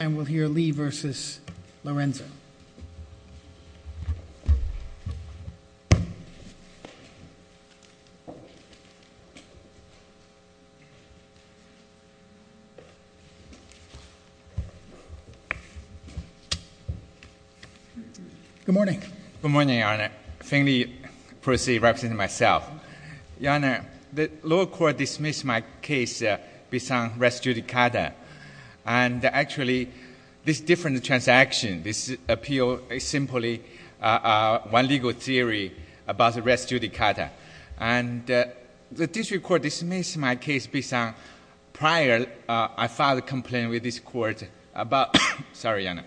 and we'll hear Lee v. Lorenzo. Good morning. Good morning, Your Honor. Finley Percy representing myself, Your Honor, the lower court dismissed my case based on res judicata and actually this different transaction, this appeal is simply one legal theory about res judicata. And the district court dismissed my case based on prior, I filed a complaint with this court about, sorry, Your Honor,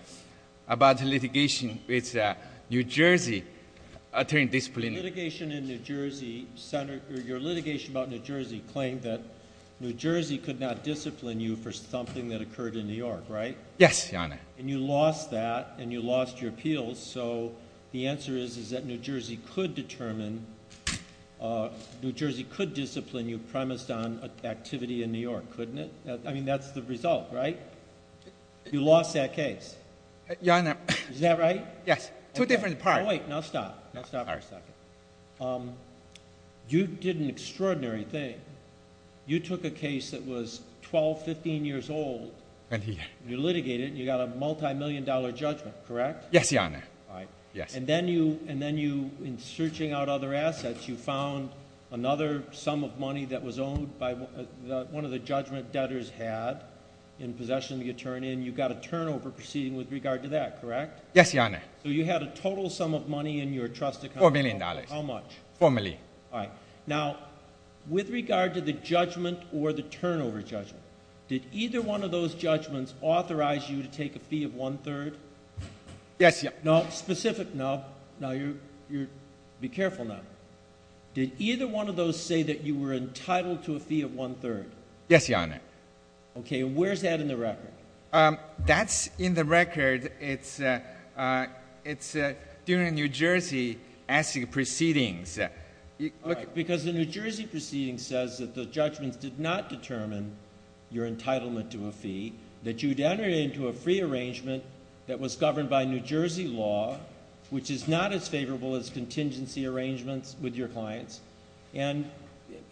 about litigation with New Jersey attorney disciplinary. The litigation in New Jersey, Senator, your litigation about New Jersey claimed that New Jersey could not discipline you for something that occurred in New York, right? Yes, Your Honor. And you lost that and you lost your appeals. So the answer is, is that New Jersey could determine, New Jersey could discipline you premised on activity in New York, couldn't it? I mean, that's the result, right? You lost that case. Your Honor. Is that right? Yes. Two different parts. Wait, now stop. Now stop for a second. You did an extraordinary thing. You took a case that was 12, 15 years old. And you litigated and you got a multi-million dollar judgment, correct? Yes, Your Honor. And then you, in searching out other assets, you found another sum of money that was owned by one of the judgment debtors had in possession of the attorney and you got a turnover proceeding with regard to that, correct? Yes, Your Honor. So you had a total sum of money in your trust account. $4 million. $4 million. All right. Now, with regard to the judgment or the turnover judgment, did either one of those judgments authorize you to take a fee of one-third? Yes, Your Honor. No, specific, no. Now, you're, be careful now. Did either one of those say that you were entitled to a fee of one-third? Yes, Your Honor. Okay, and where's that in the record? That's in the record. It's during a New Jersey asking proceedings. Because a New Jersey proceeding says that the judgments did not determine your entitlement to a fee, that you'd entered into a free arrangement that was governed by New Jersey law, which is not as favorable as contingency arrangements with your clients. And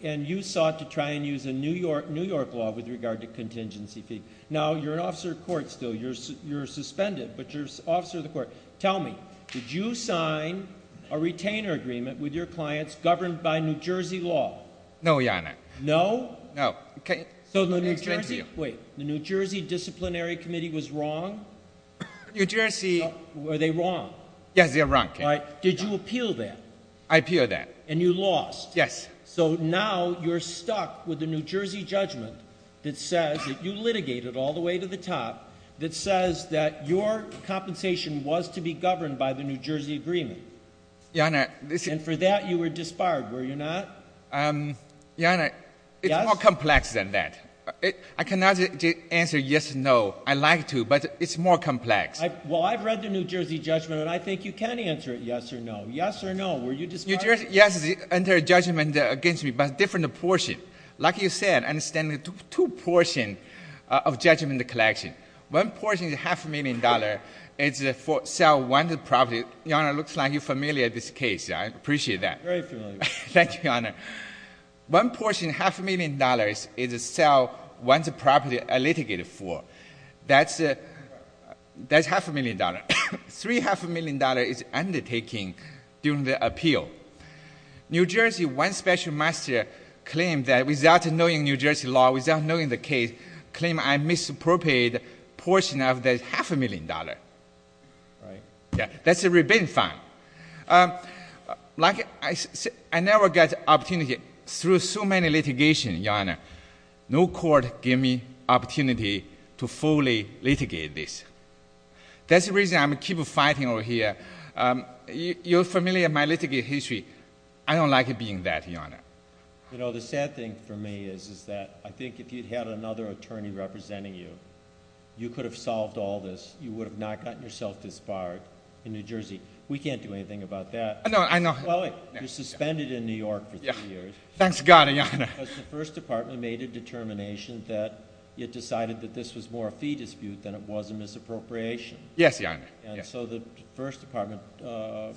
you sought to try and use a New York law with regard to contingency fee. Now, you're an officer of court still. You're suspended, but you're an officer of the court. Tell me, did you sign a retainer agreement with your clients governed by New Jersey law? No, Your Honor. No? No. So the New Jersey—wait. The New Jersey Disciplinary Committee was wrong? New Jersey— Were they wrong? Yes, they were wrong, Your Honor. Did you appeal that? I appealed that. And you lost? Yes. So now you're stuck with a New Jersey judgment that says that you litigated all the way to the top, that says that your compensation was to be governed by the New Jersey agreement. Your Honor— And for that, you were disbarred, were you not? Your Honor, it's more complex than that. I cannot answer yes or no. I'd like to, but it's more complex. Well, I've read the New Jersey judgment, and I think you can answer it yes or no. Yes or no, were you disbarred? Yes, the entire judgment against me, but a different portion. Like you said, I understand two portions of the judgment collection. One portion, half a million dollars, is to sell one property. Your Honor, it looks like you're familiar with this case. I appreciate that. Very familiar. Thank you, Your Honor. One portion, half a million dollars, is to sell one property I litigated for. That's half a million dollars. Three half a million dollars is undertaken during the appeal. New Jersey, one special master, claimed that without knowing New Jersey law, without knowing the case, claimed I misappropriated a portion of the half a million dollars. Right. Yeah, that's a rebate fine. Like I said, I never got opportunity through so many litigation, Your Honor. No court gave me opportunity to fully litigate this. That's the reason I keep fighting over here. You're familiar with my litigate history. I don't like being that, Your Honor. You know, the sad thing for me is that I think if you had another attorney representing you, you could have solved all this. You would have not gotten yourself disbarred in New Jersey. We can't do anything about that. No, I know. Well, you're suspended in New York for three years. Thanks God, Your Honor. Because the First Department made a determination that it decided that this was more a fee dispute than it was a misappropriation. Yes, Your Honor. And so the First Department...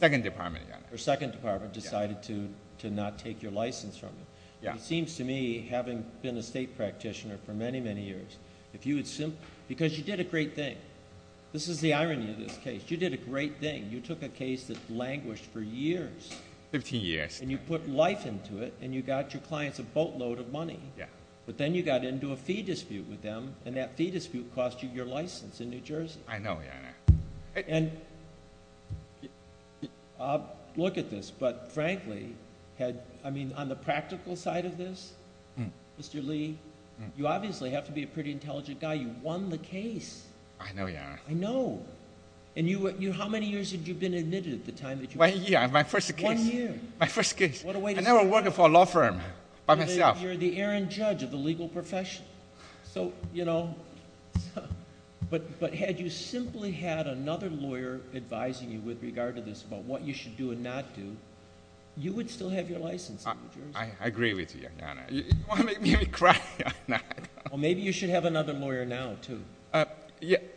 Second Department, Your Honor. Or Second Department decided to not take your license from you. It seems to me, having been a state practitioner for many, many years, if you would simply... Because you did a great thing. This is the irony of this case. You did a great thing. You took a case that languished for years. Fifteen years. And you put life into it, and you got your clients a boatload of money. Yeah. But then you got into a fee dispute with them, and that fee dispute cost you your license in New Jersey. I know, Your Honor. And I'll look at this, but frankly, I mean, on the practical side of this, Mr. Lee, you obviously have to be a pretty intelligent guy. You won the case. I know, Your Honor. I know. And how many years had you been admitted at the time? One year. My first case. One year. My first case. I never worked for a law firm by myself. You're the errant judge of the legal profession. So, you know, but had you simply had another lawyer advising you with regard to this about what you should do and not do, you would still have your license in New Jersey. I agree with you, Your Honor. You make me cry. Well, maybe you should have another lawyer now, too.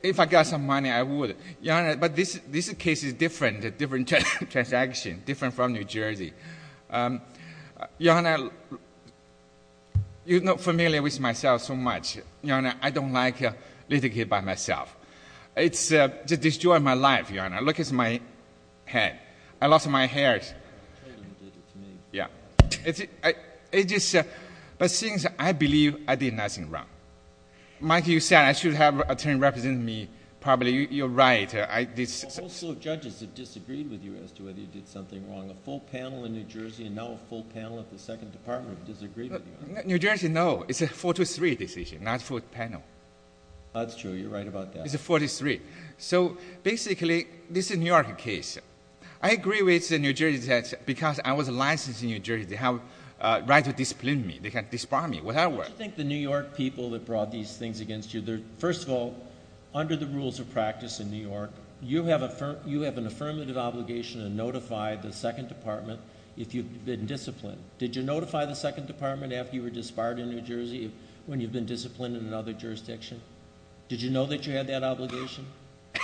If I got some money, I would. Your Honor, but this case is different, a different transaction, different from New Jersey. Your Honor, you're not familiar with myself so much. Your Honor, I don't like litigating by myself. It's just destroyed my life, Your Honor. Look at my head. I lost my hair. I'm afraid you did it to me. Yeah. But since I believe I did nothing wrong. Mike, you said I should have an attorney representing me. Probably you're right. A whole slew of judges have disagreed with you as to whether you did something wrong. A full panel in New Jersey and now a full panel at the Second Department have disagreed with you. New Jersey, no. It's a 4-3 decision, not a full panel. That's true. You're right about that. It's a 4-3. So basically, this is a New York case. I agree with New Jersey because I was licensed in New Jersey. They have a right to discipline me. They can disbar me, whatever. Don't you think the New York people that brought these things against you, first of all, under the rules of practice in New York, you have an affirmative obligation to notify the Second Department if you've been disciplined. Did you notify the Second Department after you were disbarred in New Jersey when you've been disciplined in another jurisdiction? Did you know that you had that obligation?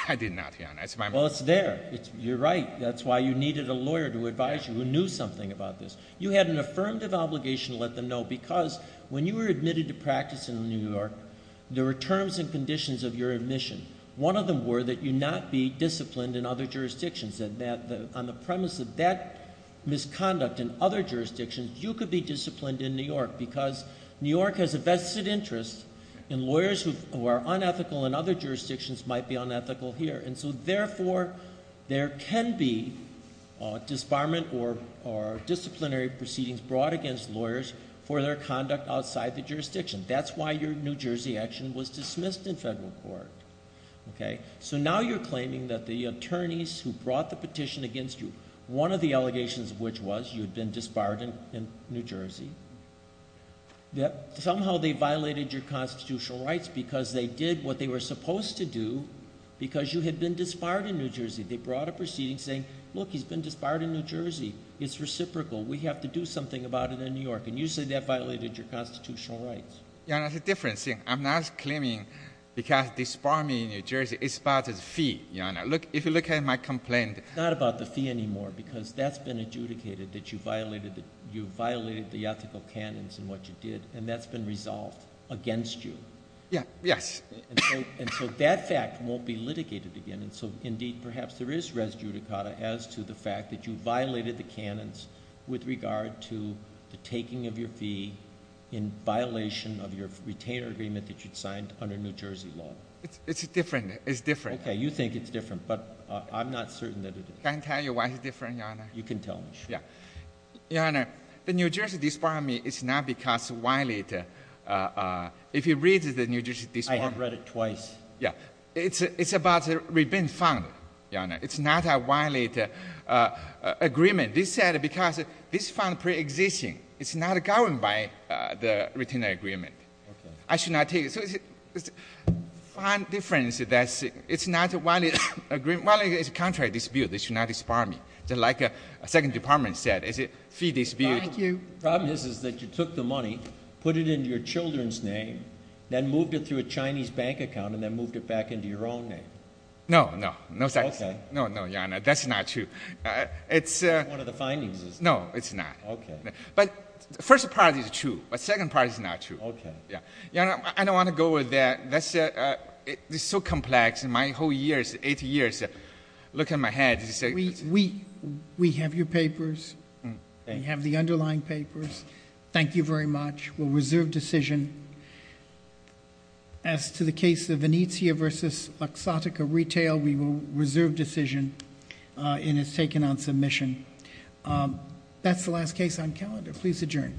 I did not, Your Honor. Well, it's there. You're right. That's why you needed a lawyer to advise you who knew something about this. You had an affirmative obligation to let them know because when you were admitted to practice in New York, there were terms and conditions of your admission. One of them were that you not be disciplined in other jurisdictions. On the premise of that misconduct in other jurisdictions, you could be disciplined in New York because New York has a vested interest in lawyers who are unethical in other jurisdictions might be unethical here. And so therefore, there can be disbarment or disciplinary proceedings brought against lawyers for their conduct outside the jurisdiction. That's why your New Jersey action was dismissed in federal court. Okay? So now you're claiming that the attorneys who brought the petition against you, one of the allegations of which was you had been disbarred in New Jersey, that somehow they violated your constitutional rights because they did what they were supposed to do because you had been disbarred in New Jersey. They brought a proceeding saying, look, he's been disbarred in New Jersey. It's reciprocal. We have to do something about it in New York. And you say that violated your constitutional rights. Your Honor, it's a different thing. I'm not claiming because disbarment in New Jersey is about a fee, Your Honor. If you look at my complaint... It's not about the fee anymore because that's been adjudicated that you violated the ethical canons in what you did and that's been resolved against you. Yes. And so that fact won't be litigated again. And so indeed, perhaps there is res judicata as to the fact that you violated the canons with regard to the taking of your fee in violation of your retainer agreement that you'd signed under New Jersey law. It's different. It's different. Okay. You think it's different, but I'm not certain that it is. Can I tell you why it's different, Your Honor? You can tell me. Yeah. Your Honor, the New Jersey disbarment is not because violated... If you read the New Jersey disbarment... I have read it twice. Yeah. It's about a rebate fund, Your Honor. It's not a violated agreement. This said because this fund pre-existing. It's not governed by the retainer agreement. Okay. I should not take it. So it's a fund difference that's... It's not a violated agreement. Violated is a contract dispute. It should not disbar me. Just like a second department said, it's a fee dispute. Thank you. The problem is that you took the money, put it in your children's name, then moved it through a Chinese bank account and then moved it back into your own name. No, no. Okay. No, no, Your Honor. That's not true. It's... One of the findings is... No, it's not. Okay. But the first part is true. The second part is not true. Okay. Your Honor, I don't want to go with that. It's so complex. In my whole years, 80 years, look at my head. We have your papers. We have the underlying papers. Thank you very much. We'll reserve decision. As to the case of Venezia versus Luxottica Retail, we will reserve decision. And it's taken on submission. That's the last case on calendar. Please adjourn court.